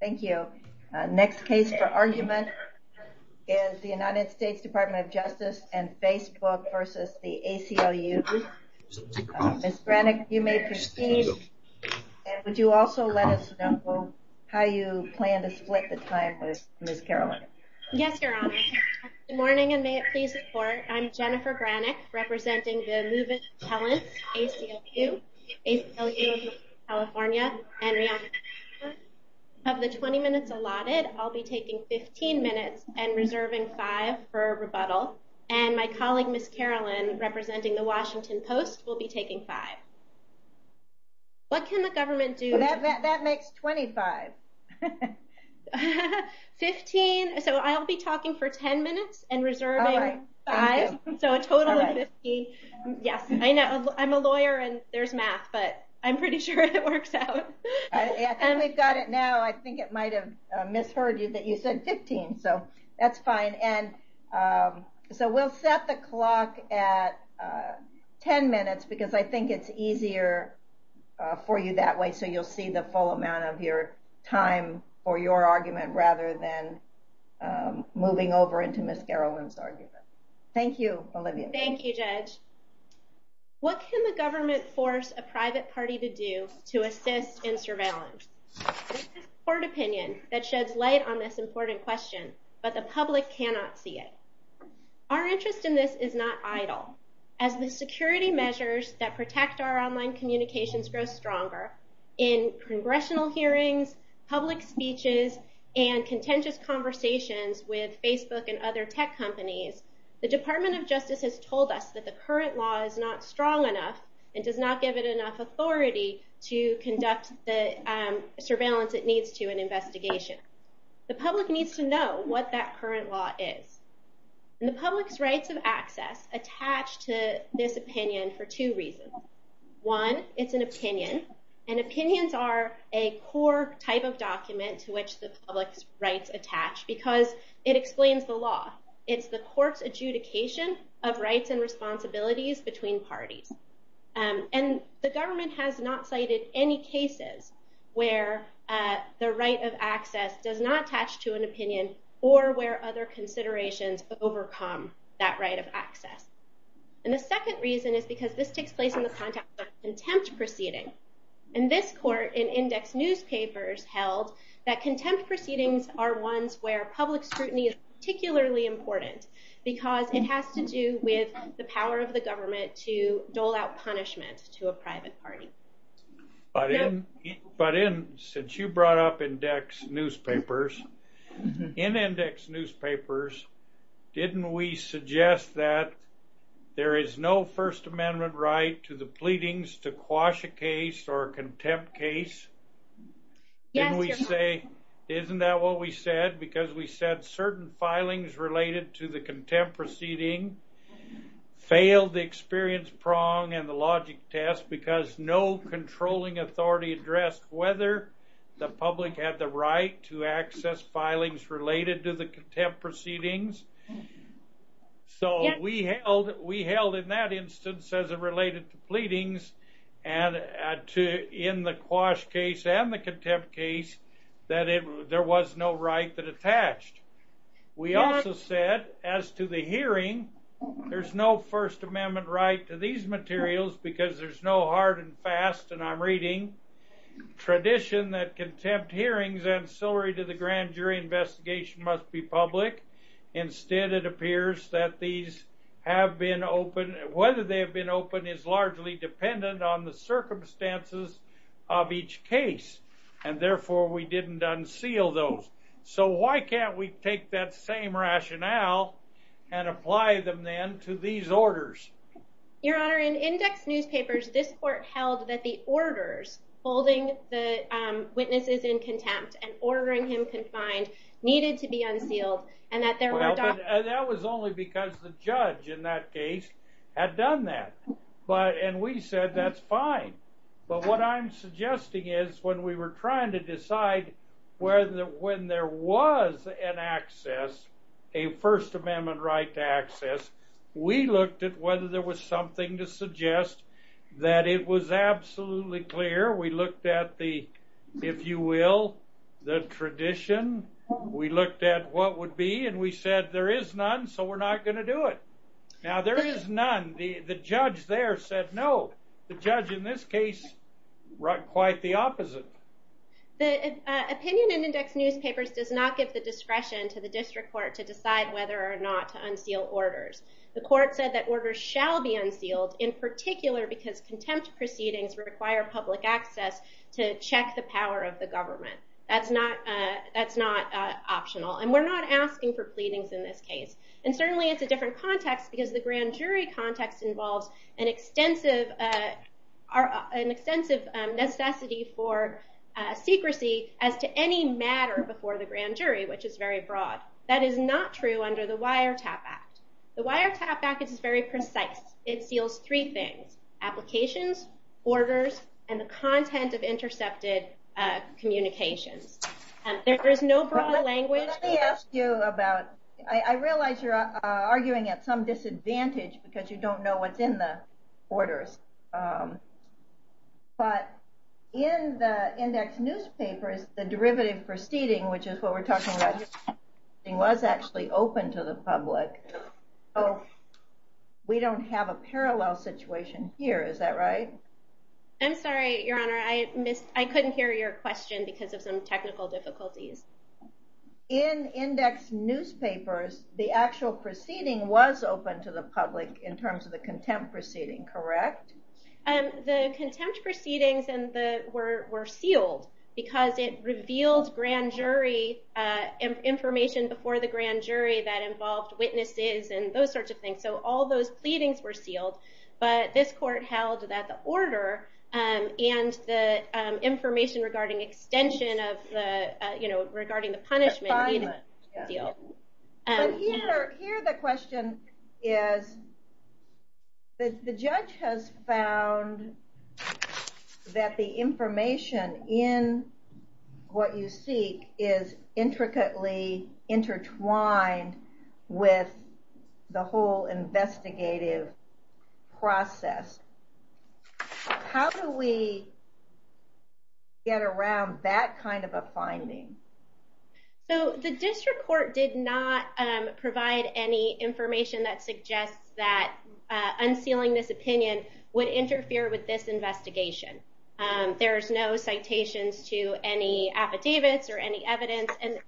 Thank you. Next case for argument is the U.S. Department of Justice and Facebook v. the ACLU. Ms. Brannick, you may proceed. And would you also let us know how you plan to split the time with Ms. Caroline? Yes, Your Honor. Good morning and may it please the Court. I'm Jennifer Brannick representing the Movement of Talents, ACLU of California. Of the 20 minutes allotted, I'll be taking 15 minutes and reserving five for rebuttal. And my colleague, Ms. Caroline, representing the Washington Post, will be taking five. What can the government do? That makes 25. Okay. 15. So I'll be talking for 10 minutes and reserving five. So a total of 15. Yes, I know. I'm a lawyer and there's math, but I'm pretty sure it works out. And we've got it now. I think it might have misheard you that you said 15. So that's fine. And so we'll set the clock at 10 minutes because I think it's easier for you that way. So you'll see the full amount of your time for your argument rather than moving over into Ms. Caroline's argument. Thank you, Olivia. Thank you, Judge. What can the government force a private party to do to assist in surveillance? This is a court opinion that sheds light on this important question, but the public cannot see it. Our interest in this is not idle. As the security measures that protect our online communications grow stronger in congressional hearings, public speeches, and contentious conversations with Facebook and other tech companies, the Department of Justice has told us that the current law is not strong enough and does not give it enough authority to conduct the surveillance it needs to an investigation. The public needs to know what that current law is. The public's rights of access attach to this opinion for two reasons. One, it's an opinion, and opinions are a core type of document to which the public's rights attach because it explains the law. It's the court's adjudication of rights and responsibilities between parties. And the government has not cited any cases where the right of access does not attach to an opinion or where other considerations overcome that right of access. And the second reason is because this takes place in the context of a contempt proceeding. In this court, in index newspapers held that contempt proceedings are ones where public scrutiny is particularly important because it has to do with the power of the government to dole out punishment to a private party. But in, but in, since you brought up index newspapers, in index newspapers, didn't we suggest that there is no First Amendment right to the pleadings to quash a case or contempt case? Didn't we say, isn't that what we said? Because we said certain filings related to the contempt proceedings, there was no controlling authority addressed whether the public had the right to access filings related to the contempt proceedings. So we held, we held in that instance as it related to pleadings and to, in the quash case and the contempt case, that it, there was no right that attached. We also said as to the hearing, there's no First Amendment right to these materials because there's no hard and fast, and I'm reading, tradition that contempt hearings ancillary to the grand jury investigation must be public. Instead, it appears that these have been open, whether they have been open is largely dependent on the circumstances of each case. And therefore, we didn't unseal those. So why can't we take that same rationale and apply them then to these orders? Your Honor, in index newspapers, this court held that the orders holding the witnesses in contempt and ordering him confined needed to be unsealed, and that there were... That was only because the judge in that case had done that, but, and we said that's fine. But what I'm suggesting is when we were trying to decide whether, when there was an access, a First Amendment right to access, we looked at whether there was something to suggest that it was absolutely clear. We looked at the, if you will, the tradition. We looked at what would be, and we said there is none, so we're not going to do it. Now there is none. The judge there said no. The judge in this case wrote quite the opposite. The opinion in index newspapers does not give discretion to the district court to decide whether or not to unseal orders. The court said that orders shall be unsealed in particular because contempt proceedings require public access to check the power of the government. That's not optional, and we're not asking for pleadings in this case. And certainly it's a different context because the grand jury context involves an is very broad. That is not true under the Wiretap Act. The Wiretap Act is very precise. It seals three things, applications, orders, and the content of intercepted communications. There is no broad language. Let me ask you about, I realize you're arguing at some disadvantage because you don't know what's in the orders, but in the index newspapers, the derivative for seating, which is what we're talking about here, was actually open to the public. So we don't have a parallel situation here. Is that right? I'm sorry, your honor. I couldn't hear your question because of some technical difficulties. In index newspapers, the actual proceeding was open to the public in terms of the contempt proceeding, correct? The contempt proceedings were sealed because it revealed grand jury information before the grand jury that involved witnesses and those sorts of things. So all those pleadings were sealed, but this court held that the order and the information regarding extension of the punishment needed to be sealed. But here the question is, the judge has found that the information in what you seek is intricately intertwined with the whole investigative process. How do we get around that kind of a finding? So the district court did not provide any information that suggests that unsealing this opinion would interfere with this investigation. There's no citations to any affidavits or any evidence, and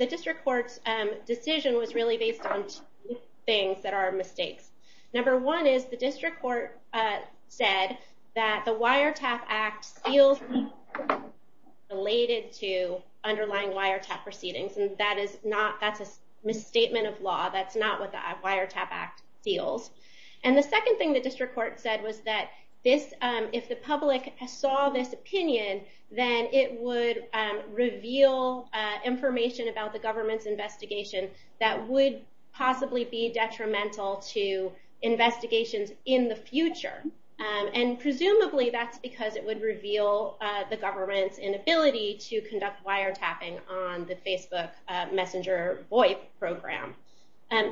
the district court's decision was really based on two things that are mistakes. Number one is the district court said that the that's not what the wiretap act deals. And the second thing the district court said was that if the public saw this opinion, then it would reveal information about the government's investigation that would possibly be detrimental to investigations in the future. And presumably that's because it would reveal the government's inability to conduct wiretapping on the Facebook messenger VoIP program.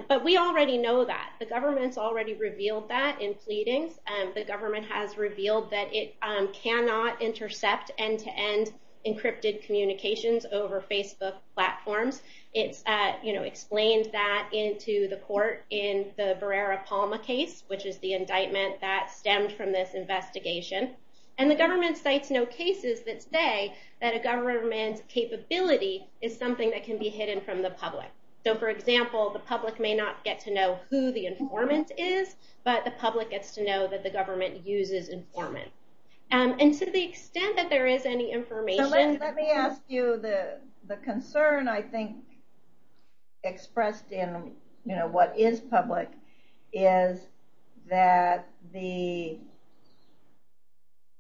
But we already know that. The government's already revealed that in pleadings. The government has revealed that it cannot intercept end-to-end encrypted communications over Facebook platforms. It's explained that into the court in the Barrera-Palma case, which is the indictment that stemmed from this investigation. And the government cites no cases that say that a government's capability is something that can be hidden from the public. So for example, the public may not get to know who the informant is, but the public gets to know that the government uses informant. And to the extent that there is any information... So let me ask you the concern I think expressed in what is public is that the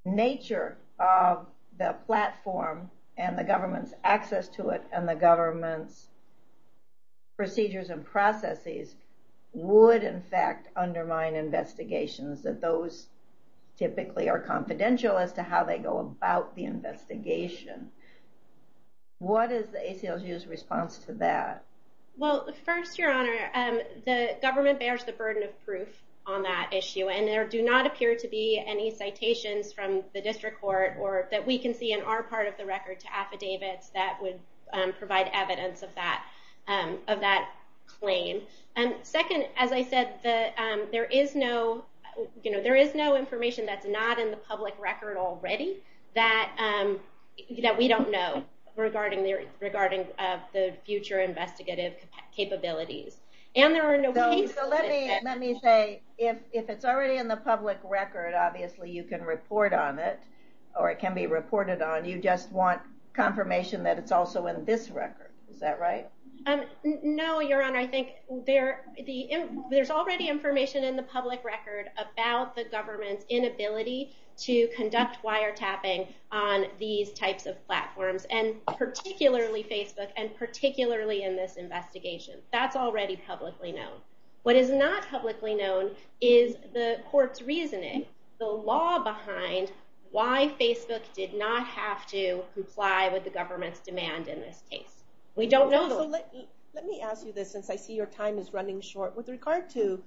nature of the platform and the government's access to it and the government's procedures and processes would in fact undermine investigations, that those typically are confidential as to how they go about the investigation. What is the ACLU's response to that? Well, first, Your Honor, the government bears the burden of proof on that issue. And there do not appear to be any citations from the district court or that we can see in our part of the record to affidavits that would provide evidence of that claim. Second, as I said, there is no information that's not in the public record already that we don't know regarding the future investigative capabilities. And there are no... So let me say, if it's already in the public record, obviously you can report on it or it can be reported on, you just want confirmation that it's also in this record. Is that right? No, Your Honor. I think there's already information in the public record about the government's inability to conduct wiretapping on these types of platforms and particularly Facebook and particularly in this investigation. That's already publicly known. What is not publicly known is the court's reasoning, the law behind why Facebook did not have to comply with the government's demand in this case. We don't know. Let me ask you this since I see your time is running short with regard to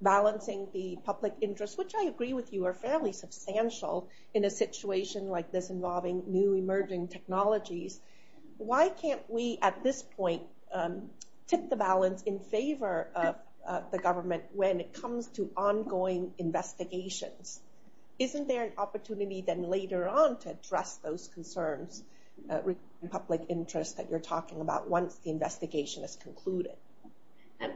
balancing the public interest, which I agree with you are fairly substantial in a situation like this involving new emerging technologies, why can't we at this point tip the balance in favor of the government when it comes to ongoing investigations? Isn't there an opportunity then later on to address those concerns regarding public interest that you're talking about once the investigation is concluded?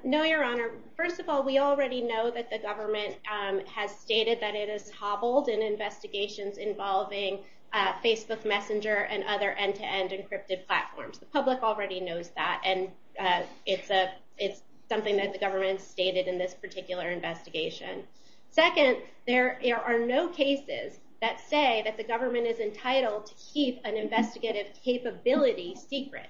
No, Your Honor. First of all, we already know that the government has stated that it has hobbled in investigations involving Facebook Messenger and other end-to-end encrypted platforms. The public already knows that and it's something that the government stated in this particular investigation. Second, there are no cases that say that the government is entitled to keep an investigative capability secret.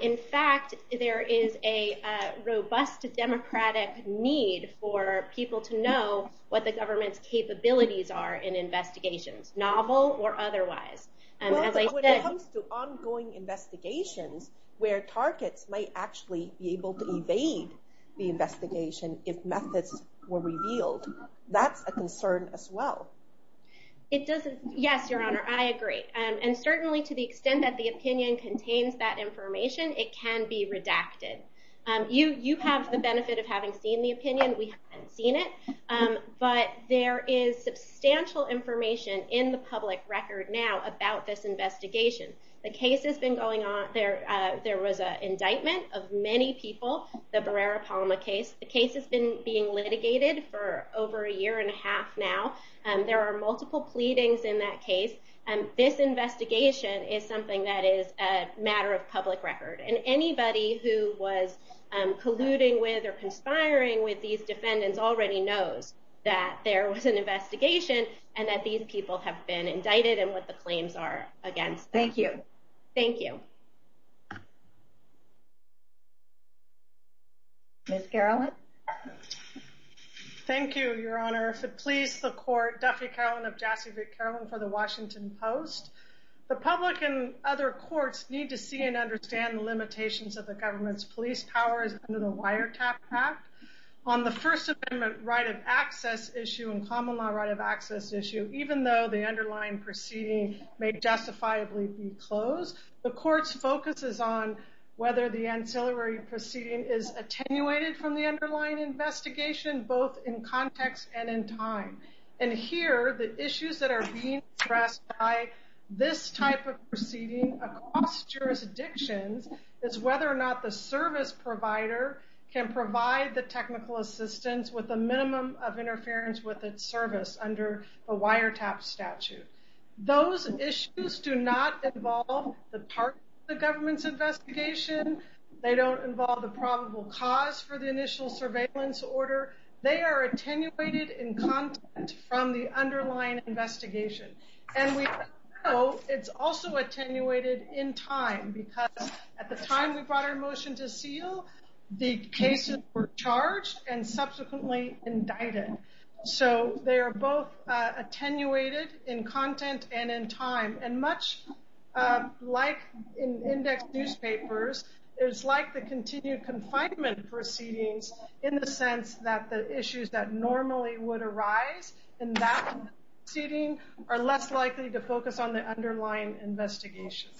In fact, there is a robust democratic need for people to know what the government's capabilities are in investigations, novel or otherwise. When it comes to ongoing investigations where targets might actually be able to evade the investigation if methods were revealed, that's a concern as well. It doesn't. Yes, Your Honor, I agree. Certainly, to the extent that the opinion contains that information, it can be redacted. You have the benefit of having seen the opinion. We haven't seen it, but there is substantial information in the public record now about this investigation. The case has been going on. There was an indictment of many people, the Barrera-Palma case. The case has been being litigated for over a year and a half now. There are multiple pleadings in that case. This investigation is something that is a matter of public record. Anybody who was colluding with or conspiring with these defendants already knows that there was an investigation and that these people have been indicted and what the claims are against them. Thank you. Thank you. Ms. Carolyn? Thank you, Your Honor. If it pleases the court, Duffy Carolyn of Jassy Vick Carolyn for the Washington Post. The public and other courts need to see and understand the limitations of the government's police powers under the Wiretap Act. On the First Amendment right of access issue and common law right of access issue, even though the underlying proceeding may justifiably be closed, the court's focus is on whether the ancillary proceeding is attenuated from the underlying investigation, both in context and in time. And here, the issues that are being addressed by this type of proceeding across jurisdictions is whether or not the service provider can provide the technical assistance with a minimum of interference with its service under a wiretap statute. Those issues do not involve the part of the government's investigation. They don't involve the probable cause for the initial surveillance order. They are attenuated in content from the underlying investigation. And we know it's also attenuated in time because at the time we brought our motion to seal, the cases were charged and subsequently indicted. So they are both attenuated in content and in time. And much like in index newspapers, it's like the continued confinement proceedings in the sense that the issues that normally would arise in that proceeding are less likely to focus on the underlying investigation.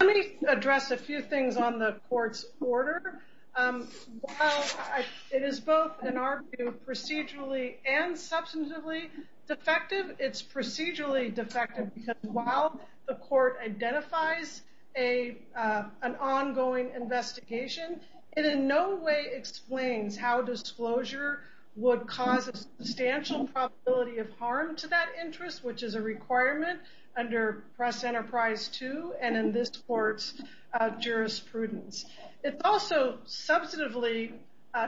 Let me address a few things on the court's order. It is both, in our view, procedurally and substantively defective. It's procedurally defective because while the court identifies an ongoing investigation, it in no way explains how disclosure would cause a substantial probability of harm to that interest, which is a requirement under Press Enterprise 2 and in this court's jurisprudence. It's also substantively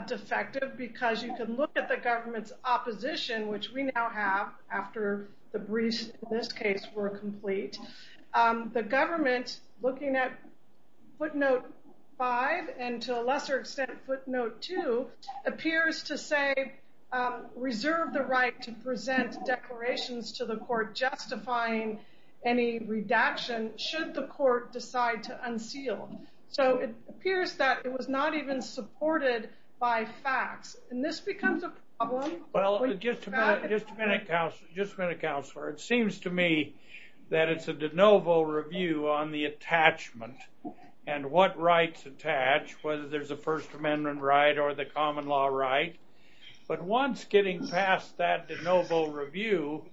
defective because you can look at the government's opposition, which we now have after the briefs in this case were complete. The government, looking at footnote 5 and to a lesser extent footnote 2, appears to say reserve the right to present declarations to the court justifying any redaction should the court decide to unseal. So it appears that it was not even supported by facts. And this becomes a problem. Well, just a minute, just a minute, counselor, just a minute, counselor. It seems to me that it's a de novo review on the attachment and what rights attach, whether there's a First Amendment right or the common law right. But once getting past that de novo review,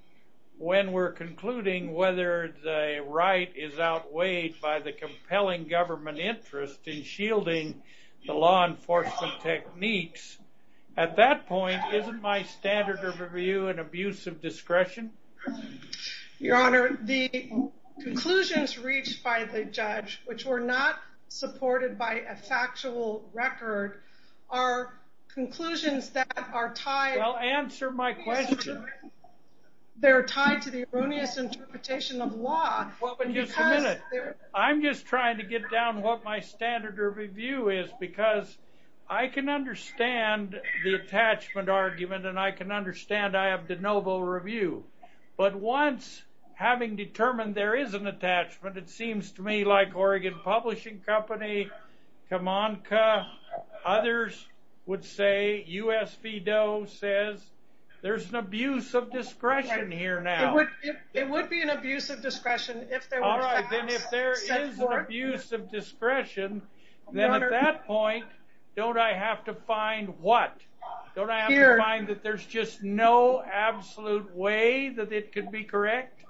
when we're concluding whether the right is outweighed by the compelling government interest in shielding the law enforcement techniques, at that point, isn't my standard of review an abuse of discretion? Your Honor, the conclusions reached by the judge, which were not supported by a factual record, are conclusions that are tied. Well, answer my question. They're tied to the is because I can understand the attachment argument and I can understand I have de novo review. But once having determined there is an attachment, it seems to me like Oregon Publishing Company, Comanca, others would say, U.S. VDOE says, there's an abuse of discretion here now. It would be an abuse of discretion if there was. All right, then if there is an abuse of discretion, then at that point, don't I have to find what? Don't I have to find that there's just no absolute way that it could be correct?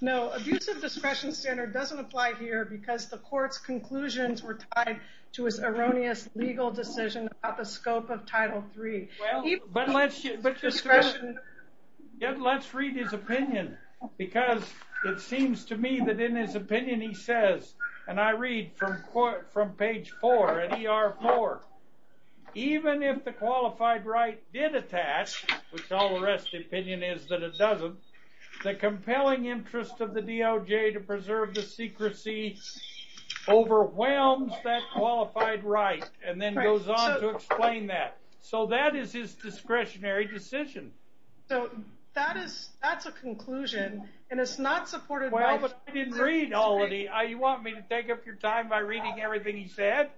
No, abuse of discretion standard doesn't apply here because the court's conclusions were tied to his erroneous legal decision about the scope of Title III. Well, but let's read his opinion because it seems to me that in his opinion, he says, and I read from page four, at ER4, even if the qualified right did attach, which all the rest opinion is that it doesn't, the compelling interest of the DOJ to preserve the secrecy overwhelms that qualified right and then goes on to explain that. So that is his discretionary decision. So that is, that's a conclusion and it's not supported. Well, but I didn't read all of it. You want me to take up your time by reading everything he said?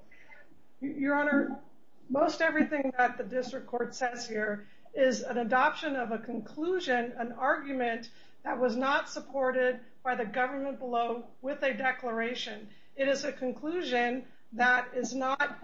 Your Honor, most everything that the district court says here is an adoption of a conclusion, an argument that was not supported by the government below with a declaration. It is a conclusion that is not,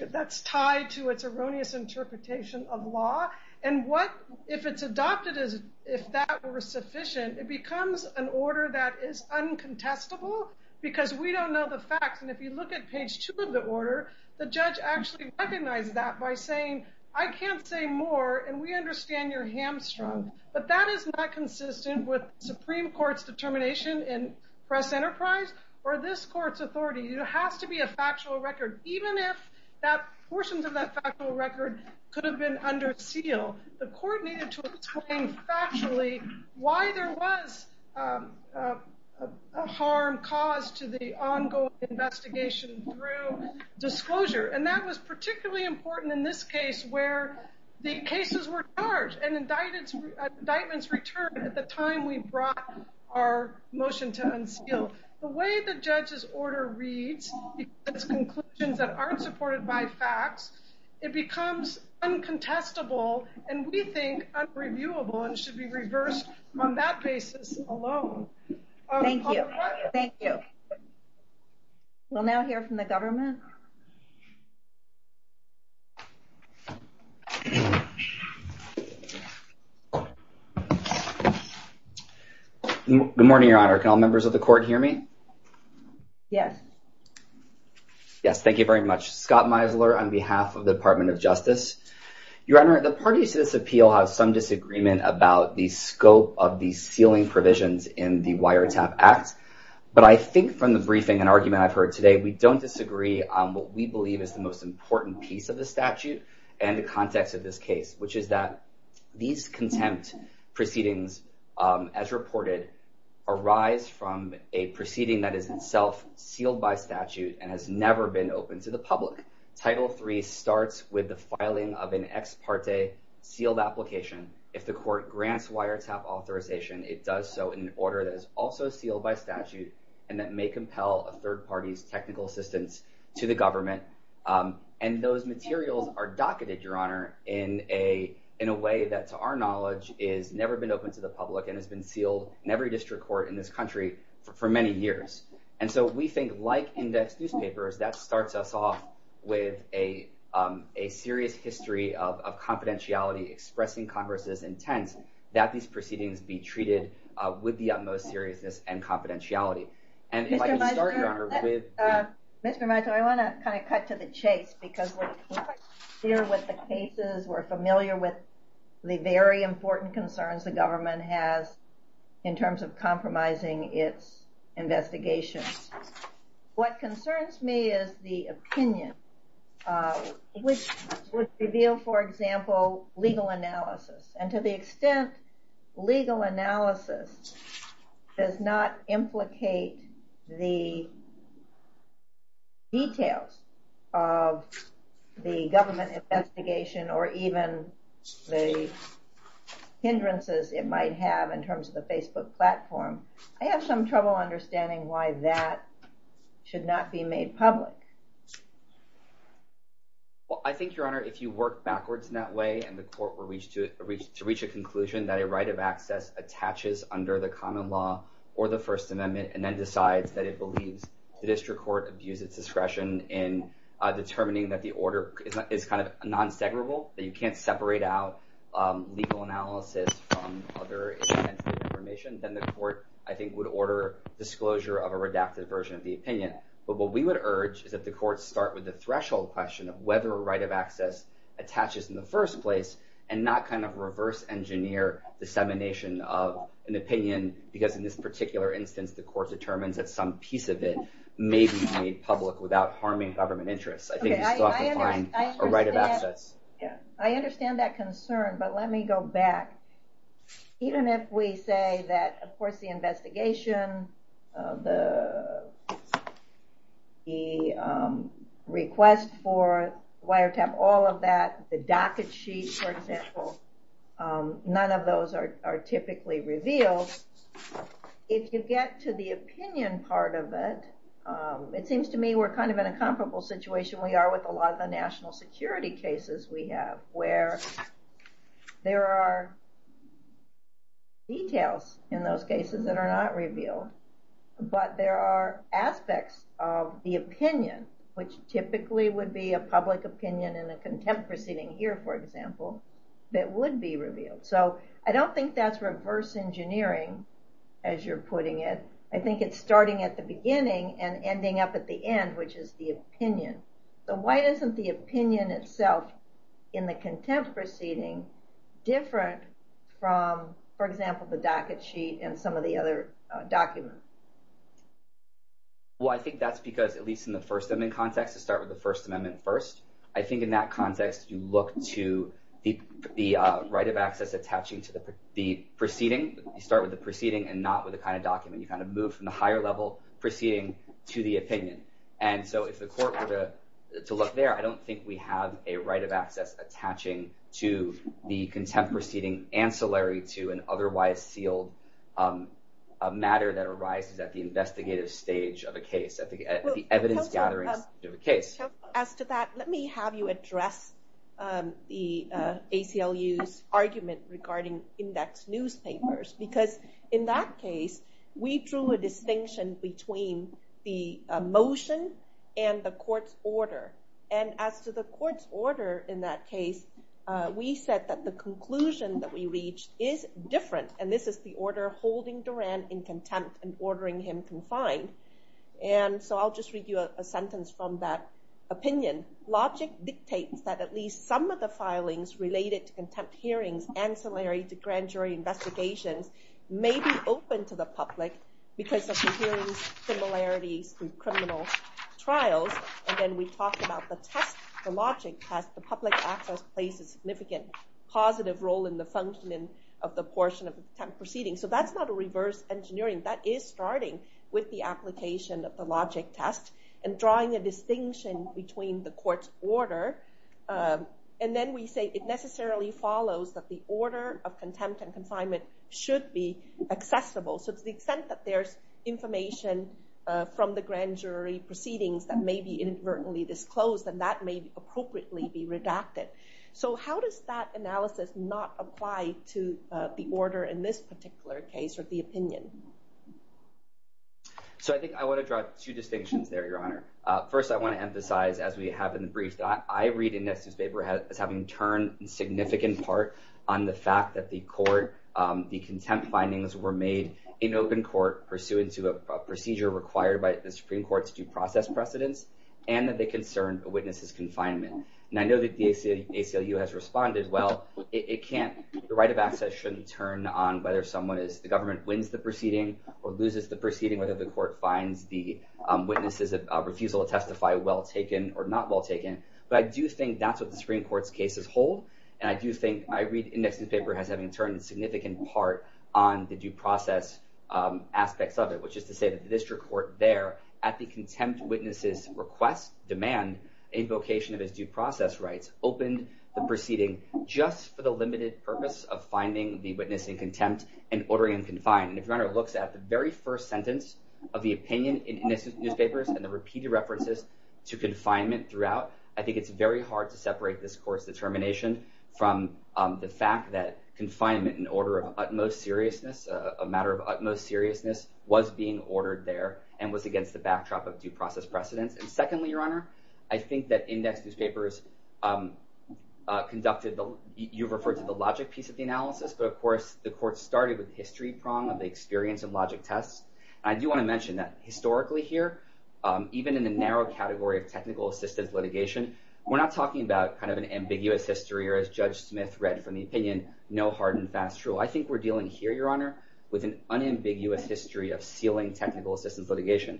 that's tied to its erroneous interpretation of law. And what if it's adopted as if that were sufficient, it becomes an order that is uncontestable because we don't know the facts. And if you look at page two of the order, the judge actually recognized that by saying, I can't say more. And we understand you're hamstrung, but that is not consistent with Supreme Court's determination in press enterprise or this court's authority. It has to be a factual record. Even if that portions of that factual record could have been under seal, the court needed to explain factually why there was a harm caused to the ongoing investigation through disclosure. And that was particularly important in this case where the cases were charged and indictments returned at the time we brought our motion to unseal. The way the judge's order reads, it's conclusions that aren't supported by facts. It becomes uncontestable and we think unreviewable and should be reversed on that basis alone. Thank you. Thank you. We'll now hear from the government. Good morning, Your Honor. Can all members of the court hear me? Yes. Yes. Thank you very much. Scott Meisler on behalf of the Department of Justice. Your Honor, the parties to this appeal have some disagreement about the scope of the sealing provisions in the Wiretap Act, but I think from the briefing and argument I've heard today, we don't disagree on what we believe is the most important piece of the statute and the context of this case, which is that these contempt proceedings, as reported, arise from a proceeding that is itself sealed by statute and has never been open to the public. Title III starts with the filing of an ex parte sealed application. If the court grants wiretap authorization, it does so in an order that is also sealed by statute and that may compel a third party's technical assistance to the government. And those materials are docketed, Your Honor, in a way that to our knowledge has never been open to the public and has been sealed in every district court in this country for many years. And so we think like index newspapers, that starts us off with a serious history of confidentiality expressing Congress's intent that these proceedings be treated with the kind of cut to the chase because we're quite clear with the cases, we're familiar with the very important concerns the government has in terms of compromising its investigations. What concerns me is the opinion, which would reveal, for example, legal analysis. And to the details of the government investigation or even the hindrances it might have in terms of the Facebook platform, I have some trouble understanding why that should not be made public. Well, I think, Your Honor, if you work backwards in that way and the court were to reach a conclusion that a right of access attaches under the common law or the First Amendment in determining that the order is kind of non-separable, that you can't separate out legal analysis from other information, then the court, I think, would order disclosure of a redacted version of the opinion. But what we would urge is that the court start with the threshold question of whether a right of access attaches in the first place and not kind of reverse engineer dissemination of an opinion because in this particular instance, the court determines that some piece of it may be made public without harming government interests. I think you still have to find a right of access. I understand that concern, but let me go back. Even if we say that, of course, the investigation, the request for wiretap, all of that, the docket sheet, for example, none of those are typically revealed. If you get to the opinion part of it, it seems to me we're kind of in a comparable situation we are with a lot of the national security cases we have where there are details in those cases that are not revealed, but there are aspects of the opinion, which typically would be a public opinion in a contempt proceeding here, for example, that would be revealed. So I don't think that's reverse engineering as you're putting it. I think it's starting at the beginning and ending up at the end, which is the opinion. So why isn't the opinion itself in the contempt proceeding different from, for example, the docket sheet and some of the other documents? Well, I think that's because at least in the First Amendment context, to start with the First Amendment first, I think in that context, you look to the right of access attaching to the proceeding. You start with the proceeding and not with the kind of document. You kind of move from the higher level proceeding to the opinion. And so if the court were to look there, I don't think we have a right of access attaching to the contempt proceeding ancillary to an otherwise sealed matter that arises at the investigative stage of a case, at the evidence gathering of a case. Because in that case, we drew a distinction between the motion and the court's order. And as to the court's order in that case, we said that the conclusion that we reached is different. And this is the order holding Duran in contempt and ordering him confined. And so I'll just read you a sentence from that opinion. Logic dictates that at least some of the filings related to contempt hearings, ancillary to grand jury investigations, may be open to the public because of the hearings similarities to criminal trials. And then we talked about the test, the logic test, the public access plays a significant positive role in the functioning of the portion of the proceeding. So that's not a reverse engineering. That is starting with the application of the logic test and drawing a follows that the order of contempt and confinement should be accessible. So to the extent that there's information from the grand jury proceedings that may be inadvertently disclosed, and that may appropriately be redacted. So how does that analysis not apply to the order in this particular case or the opinion? So I think I want to draw two distinctions there, Your Honor. First, I want to draw a significant part on the fact that the court, the contempt findings were made in open court pursuant to a procedure required by the Supreme Court's due process precedents, and that they concern a witness's confinement. And I know that the ACLU has responded, well, it can't, the right of access shouldn't turn on whether someone is, the government wins the proceeding or loses the proceeding, whether the court finds the witness's refusal to testify well taken or not well taken. But I do think that's what the Supreme Court's cases hold. And I do think, I read in this newspaper as having turned a significant part on the due process aspects of it, which is to say that the district court there at the contempt witnesses request demand invocation of his due process rights opened the proceeding just for the limited purpose of finding the witness in contempt and ordering him confined. And if your Honor looks at the very first sentence of the opinion in this newspapers and the repeated references to confinement throughout, I think it's very hard to separate this court's determination from the fact that confinement in order of utmost seriousness, a matter of utmost seriousness was being ordered there and was against the backdrop of due process precedents. And secondly, your Honor, I think that index newspapers conducted the, you've referred to the logic piece of the analysis, but of course the court started with history prong of the experience and logic tests. I do want to mention that historically here, even in the narrow category of technical assistance litigation, we're not talking about kind of an ambiguous history or as Judge Smith read from the opinion, no hard and fast rule. I think we're dealing here, your Honor, with an unambiguous history of sealing technical assistance litigation.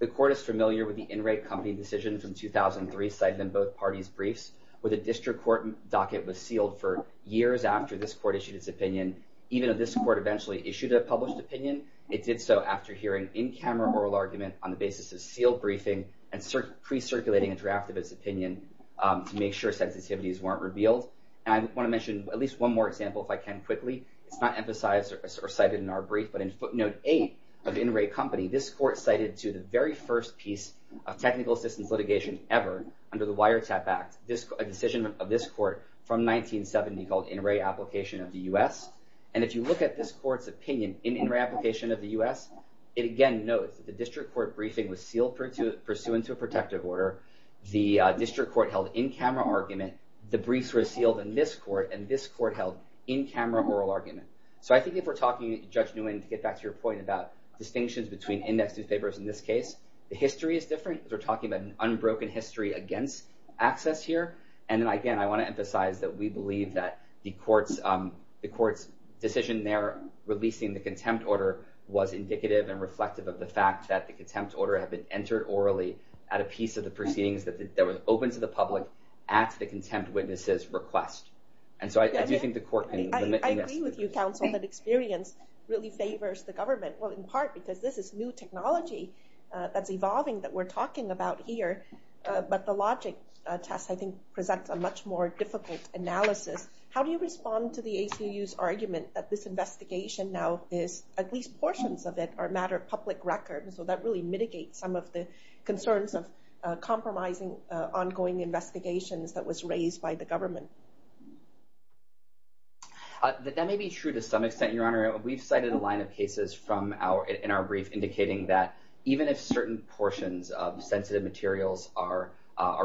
The court is familiar with the in-rate company decision from 2003 cited in both parties briefs where the district court docket was sealed for years after this court issued its opinion, even though this court eventually issued a published opinion, it did so after hearing in-camera oral argument on the basis of sealed briefing and pre-circulating a draft of its opinion to make sure sensitivities weren't revealed. And I want to mention at least one more example if I can quickly. It's not emphasized or cited in our brief, but in footnote eight of the in-rate company, this court cited to the very first piece of technical assistance litigation ever under the Wiretap Act, a decision of this court from 1970 called in-rate application of the U.S. And if you look at this court's opinion in in-rate application of the U.S., it again notes that the district court briefing was sealed pursuant to a protective order, the district court held in-camera argument, the briefs were sealed in this court, and this court held in-camera oral argument. So I think if we're talking, Judge Nguyen, to get back to your point about distinctions between index newspapers in this case, the history is different because we're talking about an unbroken history against access here. And then again, I want to emphasize that we believe that the court's decision there releasing the contempt order was indicative and reflective of the fact that the contempt order had been entered orally at a piece of the proceedings that was open to the public at the contempt witness's request. And so I do think the court can limit... I agree with you, counsel, that experience really favors the government, well in part because this is new technology that's evolving that we're talking about here, but the logic test I think presents a much more difficult analysis. How do you respond to the ACU's argument that this investigation now is, at least portions of it, are a matter of public record, so that really mitigates some of the concerns of compromising ongoing investigations that was raised by the government? That may be true to some extent, Your Honor. We've cited a line of cases in our brief indicating that even if certain portions of sensitive materials are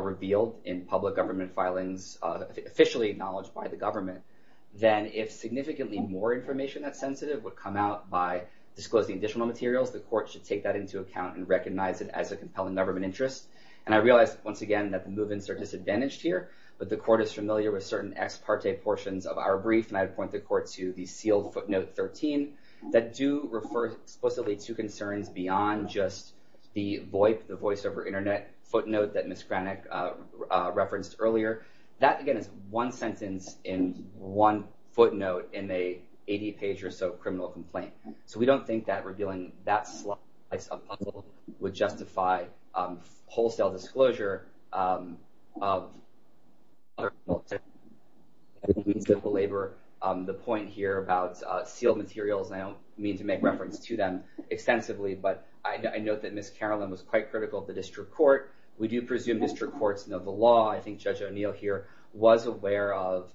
revealed in public government filings officially acknowledged by the government, then if significantly more information that's sensitive would come out by disclosing additional materials, the court should take that into account and recognize it as a compelling government interest. And I realize, once again, that the move-ins are disadvantaged here, but the court is familiar with certain ex parte portions of our brief, and I'd point the court to the sealed footnote 13, that do refer explicitly to concerns beyond just the VOIP, the Voice Over Internet footnote that Ms. Kranich referenced earlier. That, again, is one sentence in one footnote in a 80-page or so criminal complaint. So we don't think that revealing that slice of puzzle would justify wholesale disclosure of other means of labor. The point here about sealed materials, I don't mean to make reference to them extensively, but I note that Ms. Carlin was quite critical of the district court. We do presume district courts know the law. I think Judge O'Neill here was aware of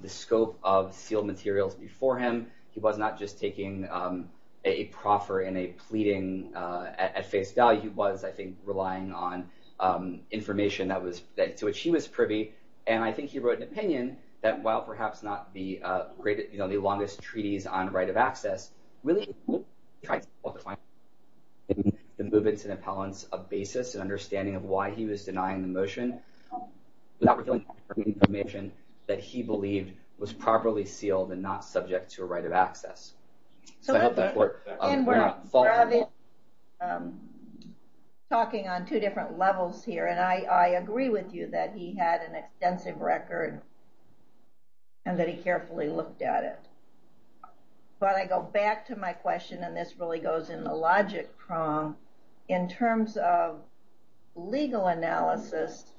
the scope of sealed materials before him. He was not just taking a proffer in a pleading at face value. He relied on information to which he was privy. And I think he wrote an opinion that, while perhaps not the longest treaties on right of access, really tried to find the move-ins and appellants a basis and understanding of why he was denying the motion without revealing the information that he believed was properly sealed and not subject to a right of access. So I hope that worked. Talking on two different levels here, and I agree with you that he had an extensive record and that he carefully looked at it. But I go back to my question, and this really goes in the logic prong, in terms of legal analysis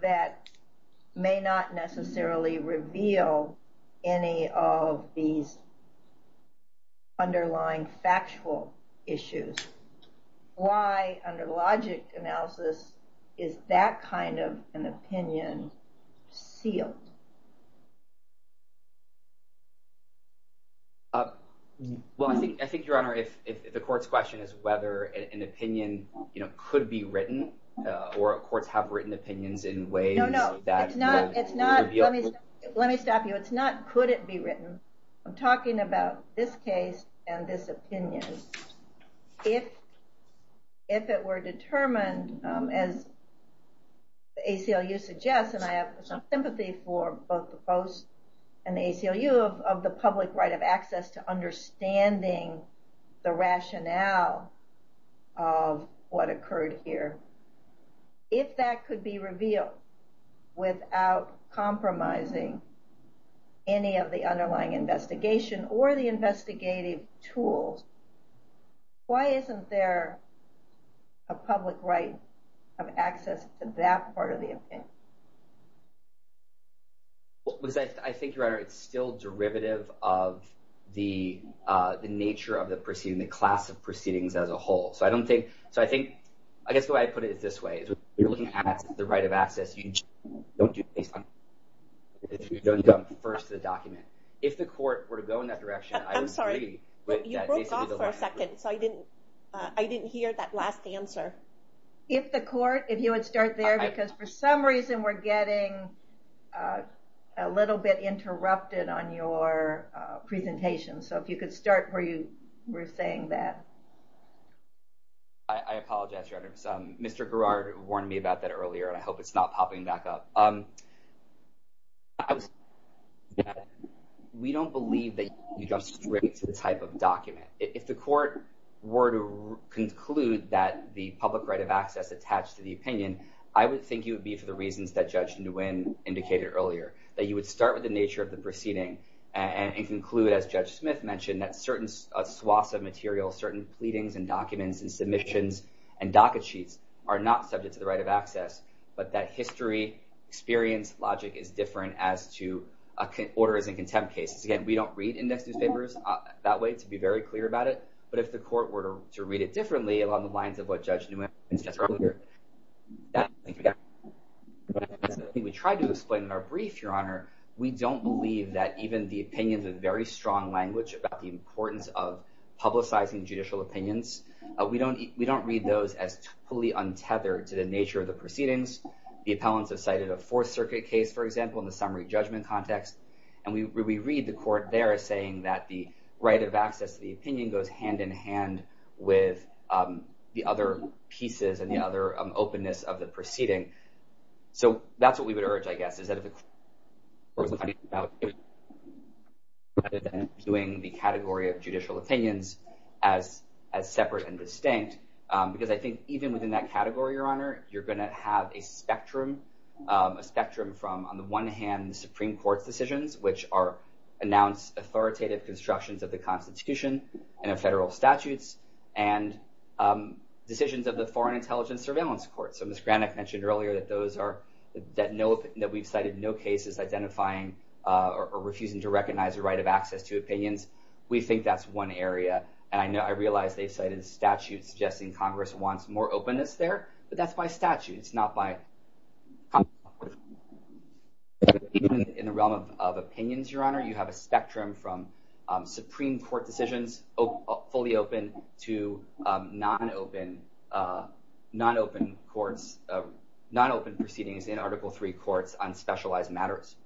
that may not necessarily reveal any of these underlying factual issues. Why, under logic analysis, is that kind of an opinion sealed? Well, I think, Your Honor, if the court's question is whether an opinion could be written, or courts have written opinions in ways that would reveal- No, no. Let me stop you. It's not could it be written. I'm talking about this case and this opinion. If it were determined, as the ACLU suggests, and I have some sympathy for both the Post and the ACLU, of the public right of access to understanding the rationale of what occurred here, if that could be revealed without compromising any of the underlying investigation or the investigative tools, why isn't there a public right of access to that part of the opinion? Well, because I think, Your Honor, it's still derivative of the nature of the proceeding, the class of proceedings as a whole. I guess the way I put it is this way. If you're looking at the right of access, you don't jump first to the document. If the court were to go in that direction, I would agree- I'm sorry. You broke off for a second, so I didn't hear that last answer. If the court, if you would start there, because for some reason we're getting a little bit interrupted on your presentation. So if you could start where you were saying that. I apologize, Your Honor. Mr. Garrard warned me about that earlier, and I hope it's not popping back up. We don't believe that you go straight to the type of document. If the court were to conclude that the public right of access attached to the opinion, I would think it would be for the reasons that Judge Nguyen indicated earlier, that you would start with the nature of the proceeding and conclude, as Judge Smith mentioned, that certain swaths of material, certain pleadings and documents and submissions and docket sheets are not subject to the right of access, but that history experience logic is different as to orders and contempt cases. Again, we don't read index newspapers that way, to be very clear about it, but if the court were to read it differently along the lines of what Judge Nguyen suggested earlier, that's something we try to explain in our brief, Your Honor. We don't believe that even the opinions of very strong language about the importance of publicizing judicial opinions, we don't read those as fully untethered to the nature of the proceedings. The appellants have cited a Fourth Circuit case, for example, in the summary judgment context, and we read the court there as saying that the right of access to the opinion goes hand in hand with the other pieces and the other openness of the proceeding. So that's what we would urge, I guess, is that if the court was to do the category of judicial opinions as separate and distinct, because I think even within that category, Your Honor, you're going to have a spectrum from, on the one hand, the Supreme Court's decisions, which are announced authoritative constructions of the Constitution and of federal statutes, and decisions of the Foreign Intelligence Surveillance Court. So Ms. Granik mentioned earlier that we've cited no cases identifying or refusing to recognize the right of access to opinions. We think that's one area, and I realize they've cited statutes suggesting Congress wants more openness there, but that's by statute. It's not by... Even in the realm of opinions, Your Honor, you have a spectrum from Supreme Court decisions fully open to non-open courts, non-open proceedings in Article III courts on specialized matters.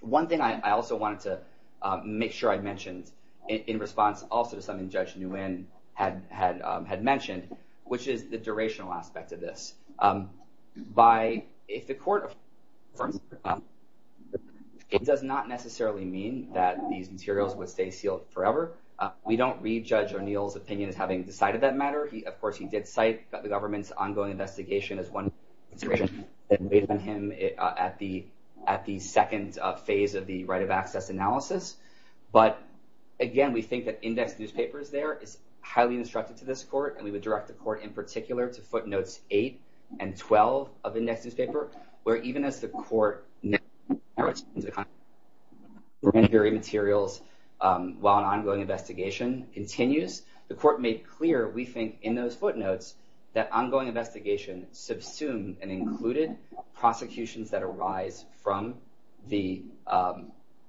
One thing I also wanted to make sure I mentioned in response also to something Judge Nguyen had mentioned, which is the durational aspect of this. If the court affirms, it does not necessarily mean that these materials would stay sealed forever. We don't read Judge O'Neill's opinion as having decided that matter. Of course, he did cite the government's ongoing investigation as one consideration that weighed on him at the second phase of the right of access analysis. But again, we think that indexed newspapers there is highly instructive to this court, and we would direct the court in particular to footnotes 8 and 12 of indexed newspaper, where even as the court narrows into the content of the grand jury materials while an ongoing investigation continues, the court made clear, we think, in those footnotes, that ongoing investigation subsumed and included prosecutions that arise from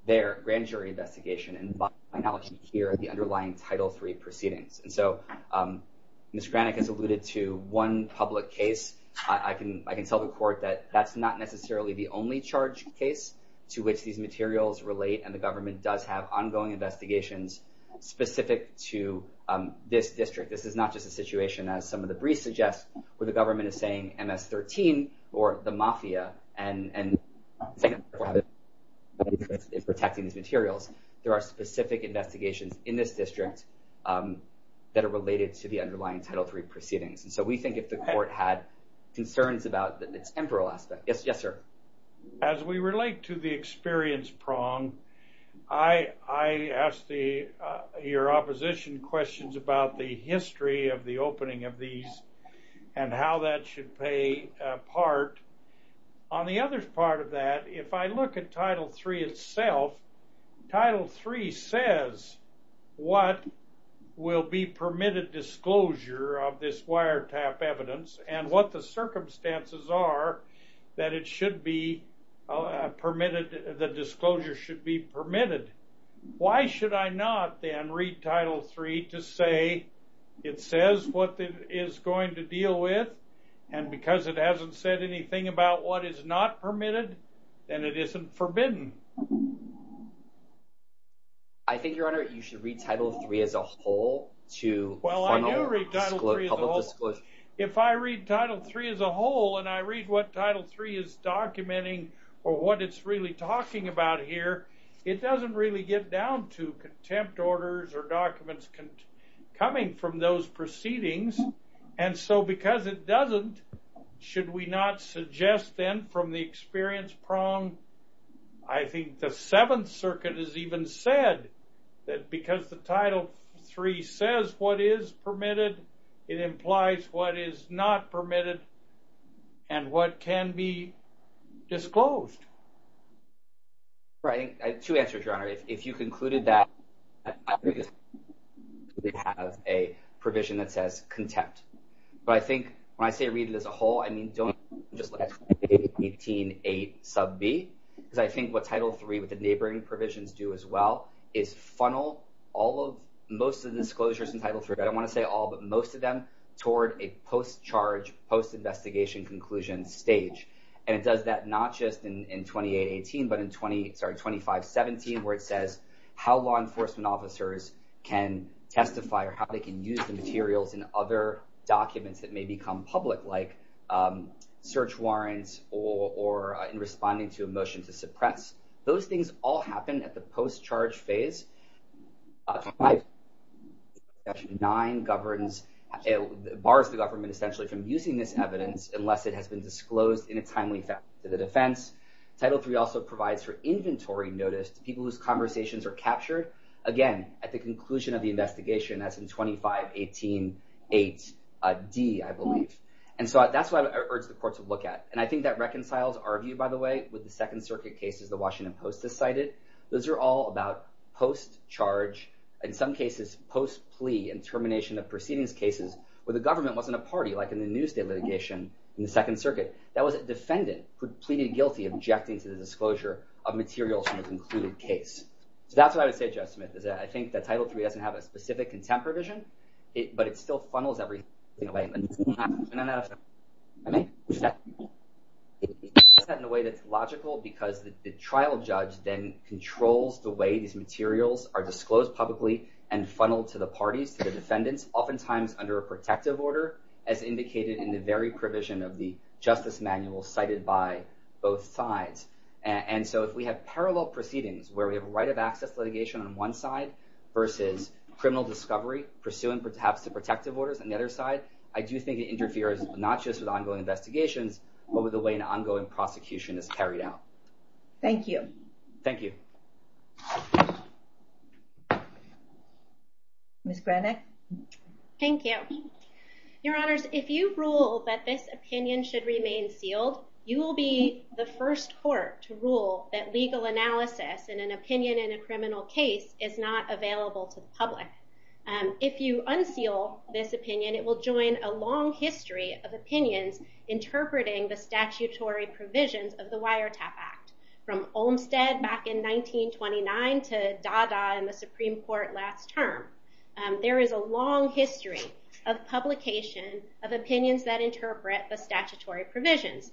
their grand jury investigation and by analogy here, the underlying Title III proceedings. And so Ms. Kranick has alluded to one public case. I can tell the court that that's not necessarily the only charge case to which these materials relate, and the government does have ongoing investigations specific to this district. This is not just a situation, as some of the public cases, in protecting these materials. There are specific investigations in this district that are related to the underlying Title III proceedings. And so we think if the court had concerns about the temporal aspect. Yes, sir. As we relate to the experience prong, I asked your opposition questions about the history of the opening of these and how that should play a part. On the other part of that, if I look at Title III itself, Title III says what will be permitted disclosure of this wiretap evidence and what the circumstances are that it should be permitted, the disclosure should be permitted. Why should I not then read Title III to say it says what it is going to deal with and because it hasn't said anything about what is not permitted, then it isn't forbidden. I think, Your Honor, you should read Title III as a whole to... Well, I do read Title III as a whole. If I read Title III as a whole and I read what Title III is documenting or what it's really talking about here, it doesn't really get down to contempt orders or documents coming from those proceedings. And so because it doesn't, should we not suggest then from the experience prong, I think the Seventh Circuit has even said that because the Title III says what is permitted, it implies what is not permitted and what can be disclosed. Right. I have two answers, Your Honor. If you concluded that we have a provision that says contempt, but I think when I say read it as a whole, I mean, don't just look at 18a sub b because I think what Title III with the neighboring provisions do as well is funnel all of most of the disclosures in Title III, I don't want to say all, but most of them toward a post-charge, post-investigation conclusion stage. And it does that not just in 2818, but in 2517 where it says how law enforcement officers can testify or how they can use the materials in other documents that may become public like search warrants or in responding to a motion to suppress. Those things all happen at the post-charge phase. Title IX governs, bars the government essentially from using this evidence unless it has been disclosed in a timely fashion to the defense. Title III also provides for inventory notice to people whose conversations are captured again at the conclusion of the investigation as in 2518.8d, I believe. And so that's what I urge the court to look at. And I think that reconciles our view, by the way, with the Second Circuit cases the Washington Post has cited. Those are all about post-charge, in some cases post-plea and termination of proceedings cases where the government wasn't a party like in the Newsday litigation in the Second Circuit. That was a defendant who pleaded guilty objecting to the disclosure of materials from the concluded case. So that's what I would say, Jeff Smith, is that I think that Title III doesn't have a specific contempt provision, but it still funnels everything away. And it does that in a way that's logical because the trial judge then controls the way these materials are disclosed publicly and funneled to the parties, to the defendants, oftentimes under a protective order as indicated in the very provision of the justice manual cited by both sides. And so if we have parallel proceedings where we have right of access litigation on one side versus criminal discovery pursuing perhaps the protective orders on the other side, I do think it interferes not just with ongoing investigations, but with the ongoing prosecution that's carried out. Thank you. Thank you. Miss Granick. Thank you. Your Honors, if you rule that this opinion should remain sealed, you will be the first court to rule that legal analysis in an opinion in a criminal case is not available to the public. If you unseal this opinion, it will join a long history of opinions interpreting the statutory provisions of the Wiretap Act, from Olmstead back in 1929 to Dada in the Supreme Court last term. There is a long history of publication of opinions that interpret the statutory provisions.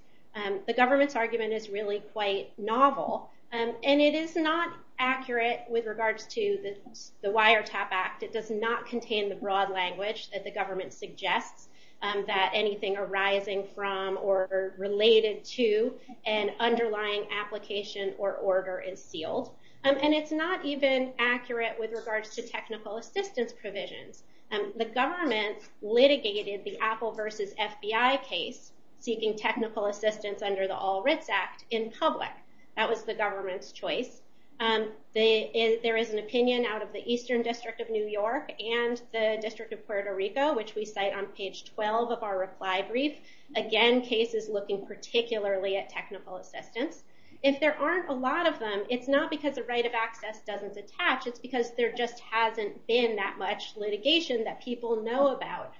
The government's argument is really quite novel, and it is not accurate with regards to the Wiretap Act. It does not contain the broad language that the government suggests that anything arising from or related to an underlying application or order is sealed. And it's not even accurate with regards to technical assistance provisions. The government litigated the Apple versus FBI case seeking technical assistance under the All Writs Act in public. That was the government's choice. There is an opinion out of the Eastern District of New York and the District of Puerto Rico, which we cite on page 12 of our reply brief. Again, cases looking particularly at technical assistance. If there aren't a lot of them, it's not because the right of access doesn't attach. It's because there just hasn't been that much litigation that people know about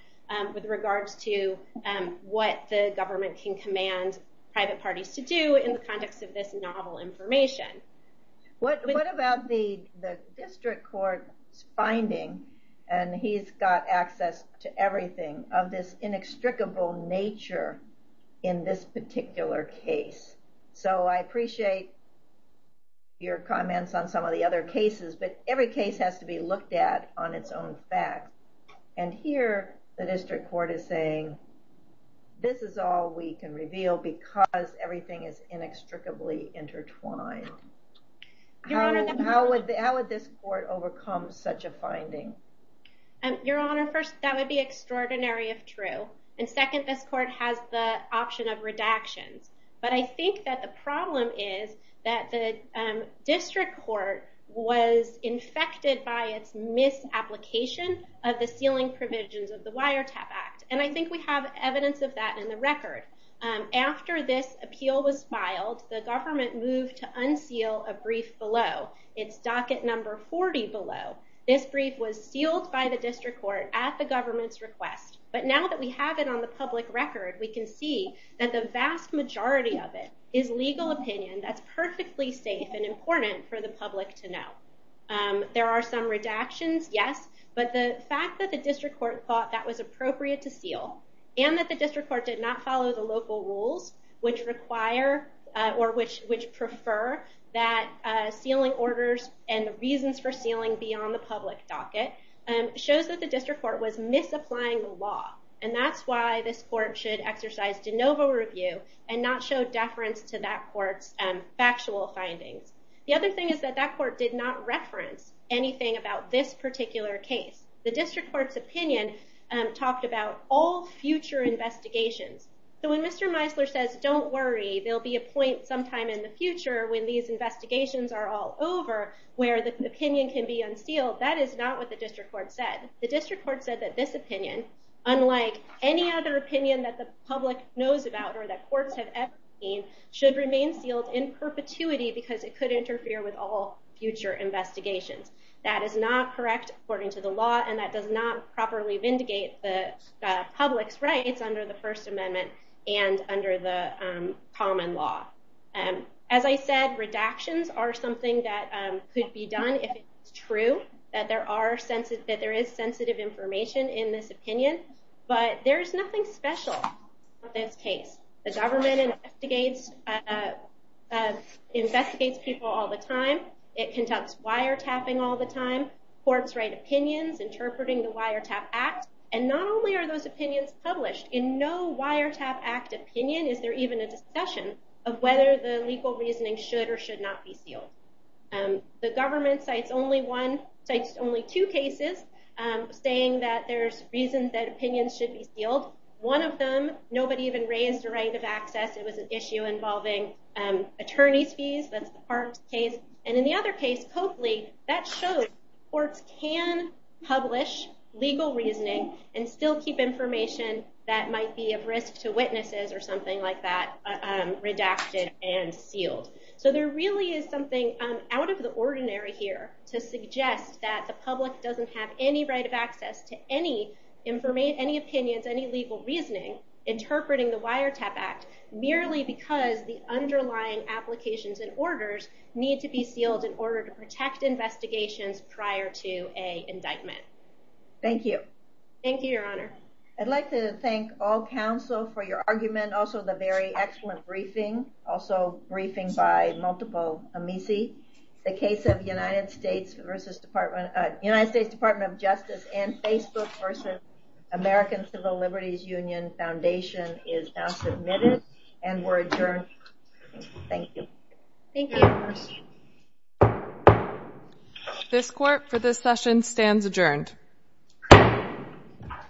with regards to what the government can command private parties to do in the context of this novel information. What about the district court's finding, and he's got access to everything, of this inextricable nature in this particular case? So I appreciate your comments on some of the other cases, but every case has to be looked at on its own fact. And here the district court is saying this is all we can reveal because everything is inextricably intertwined. How would this court overcome such a finding? Your Honor, first, that would be extraordinary if true. And second, this court has the option of redactions. But I think that the problem is that the district court was infected by its misapplication of the sealing provisions of the Act. And we have evidence of that in the record. After this appeal was filed, the government moved to unseal a brief below. It's docket number 40 below. This brief was sealed by the district court at the government's request. But now that we have it on the public record, we can see that the vast majority of it is legal opinion that's perfectly safe and important for the public to know. There are some redactions, yes, but the fact that the district court thought that was appropriate to seal and that the district court did not follow the local rules, which prefer that sealing orders and the reasons for sealing be on the public docket, shows that the district court was misapplying the law. And that's why this court should exercise de novo review and not show deference to that court's factual findings. The other thing is that that court did not reference anything about this particular case. The district court's opinion talked about all future investigations. So when Mr. Meisler says, don't worry, there'll be a point sometime in the future when these investigations are all over where the opinion can be unsealed, that is not what the district court said. The district court said that this opinion, unlike any other opinion that the public knows about or that courts have ever seen, should remain sealed in perpetuity because it could interfere with all future investigations. That is not correct according to the law and that does not properly vindicate the public's rights under the First Amendment and under the common law. As I said, redactions are something that could be done if it's true that there is sensitive information in this opinion, but there's nothing special about this case. The government investigates people all the time. It conducts wiretapping all the time. Courts write opinions interpreting the Wiretap Act. And not only are those opinions published, in no Wiretap Act opinion is there even a discussion of whether the legal reasoning should or should not be sealed. The government cites only two cases saying that there's reasons that opinions should be sealed. One of them, nobody even raised a right of access. It was an issue involving attorney's fees. That's the Parks case. And in the other case, Coakley, that shows courts can publish legal reasoning and still keep information that might be of risk to witnesses or something like that redacted and sealed. So there really is something out of the ordinary here to suggest that the public doesn't have any right of access to any opinions, any legal reasoning interpreting the Wiretap Act merely because the underlying applications and orders need to be sealed in order to protect investigations prior to a indictment. Thank you. Thank you, Your Honor. I'd like to thank all counsel for your argument. Also the very excellent briefing, also briefing by multiple amici. The case of United States versus Department, United States Department of Justice and Facebook versus American Civil Liberties Union Foundation is now submitted and we're adjourned. Thank you. Thank you. This court for this session stands adjourned.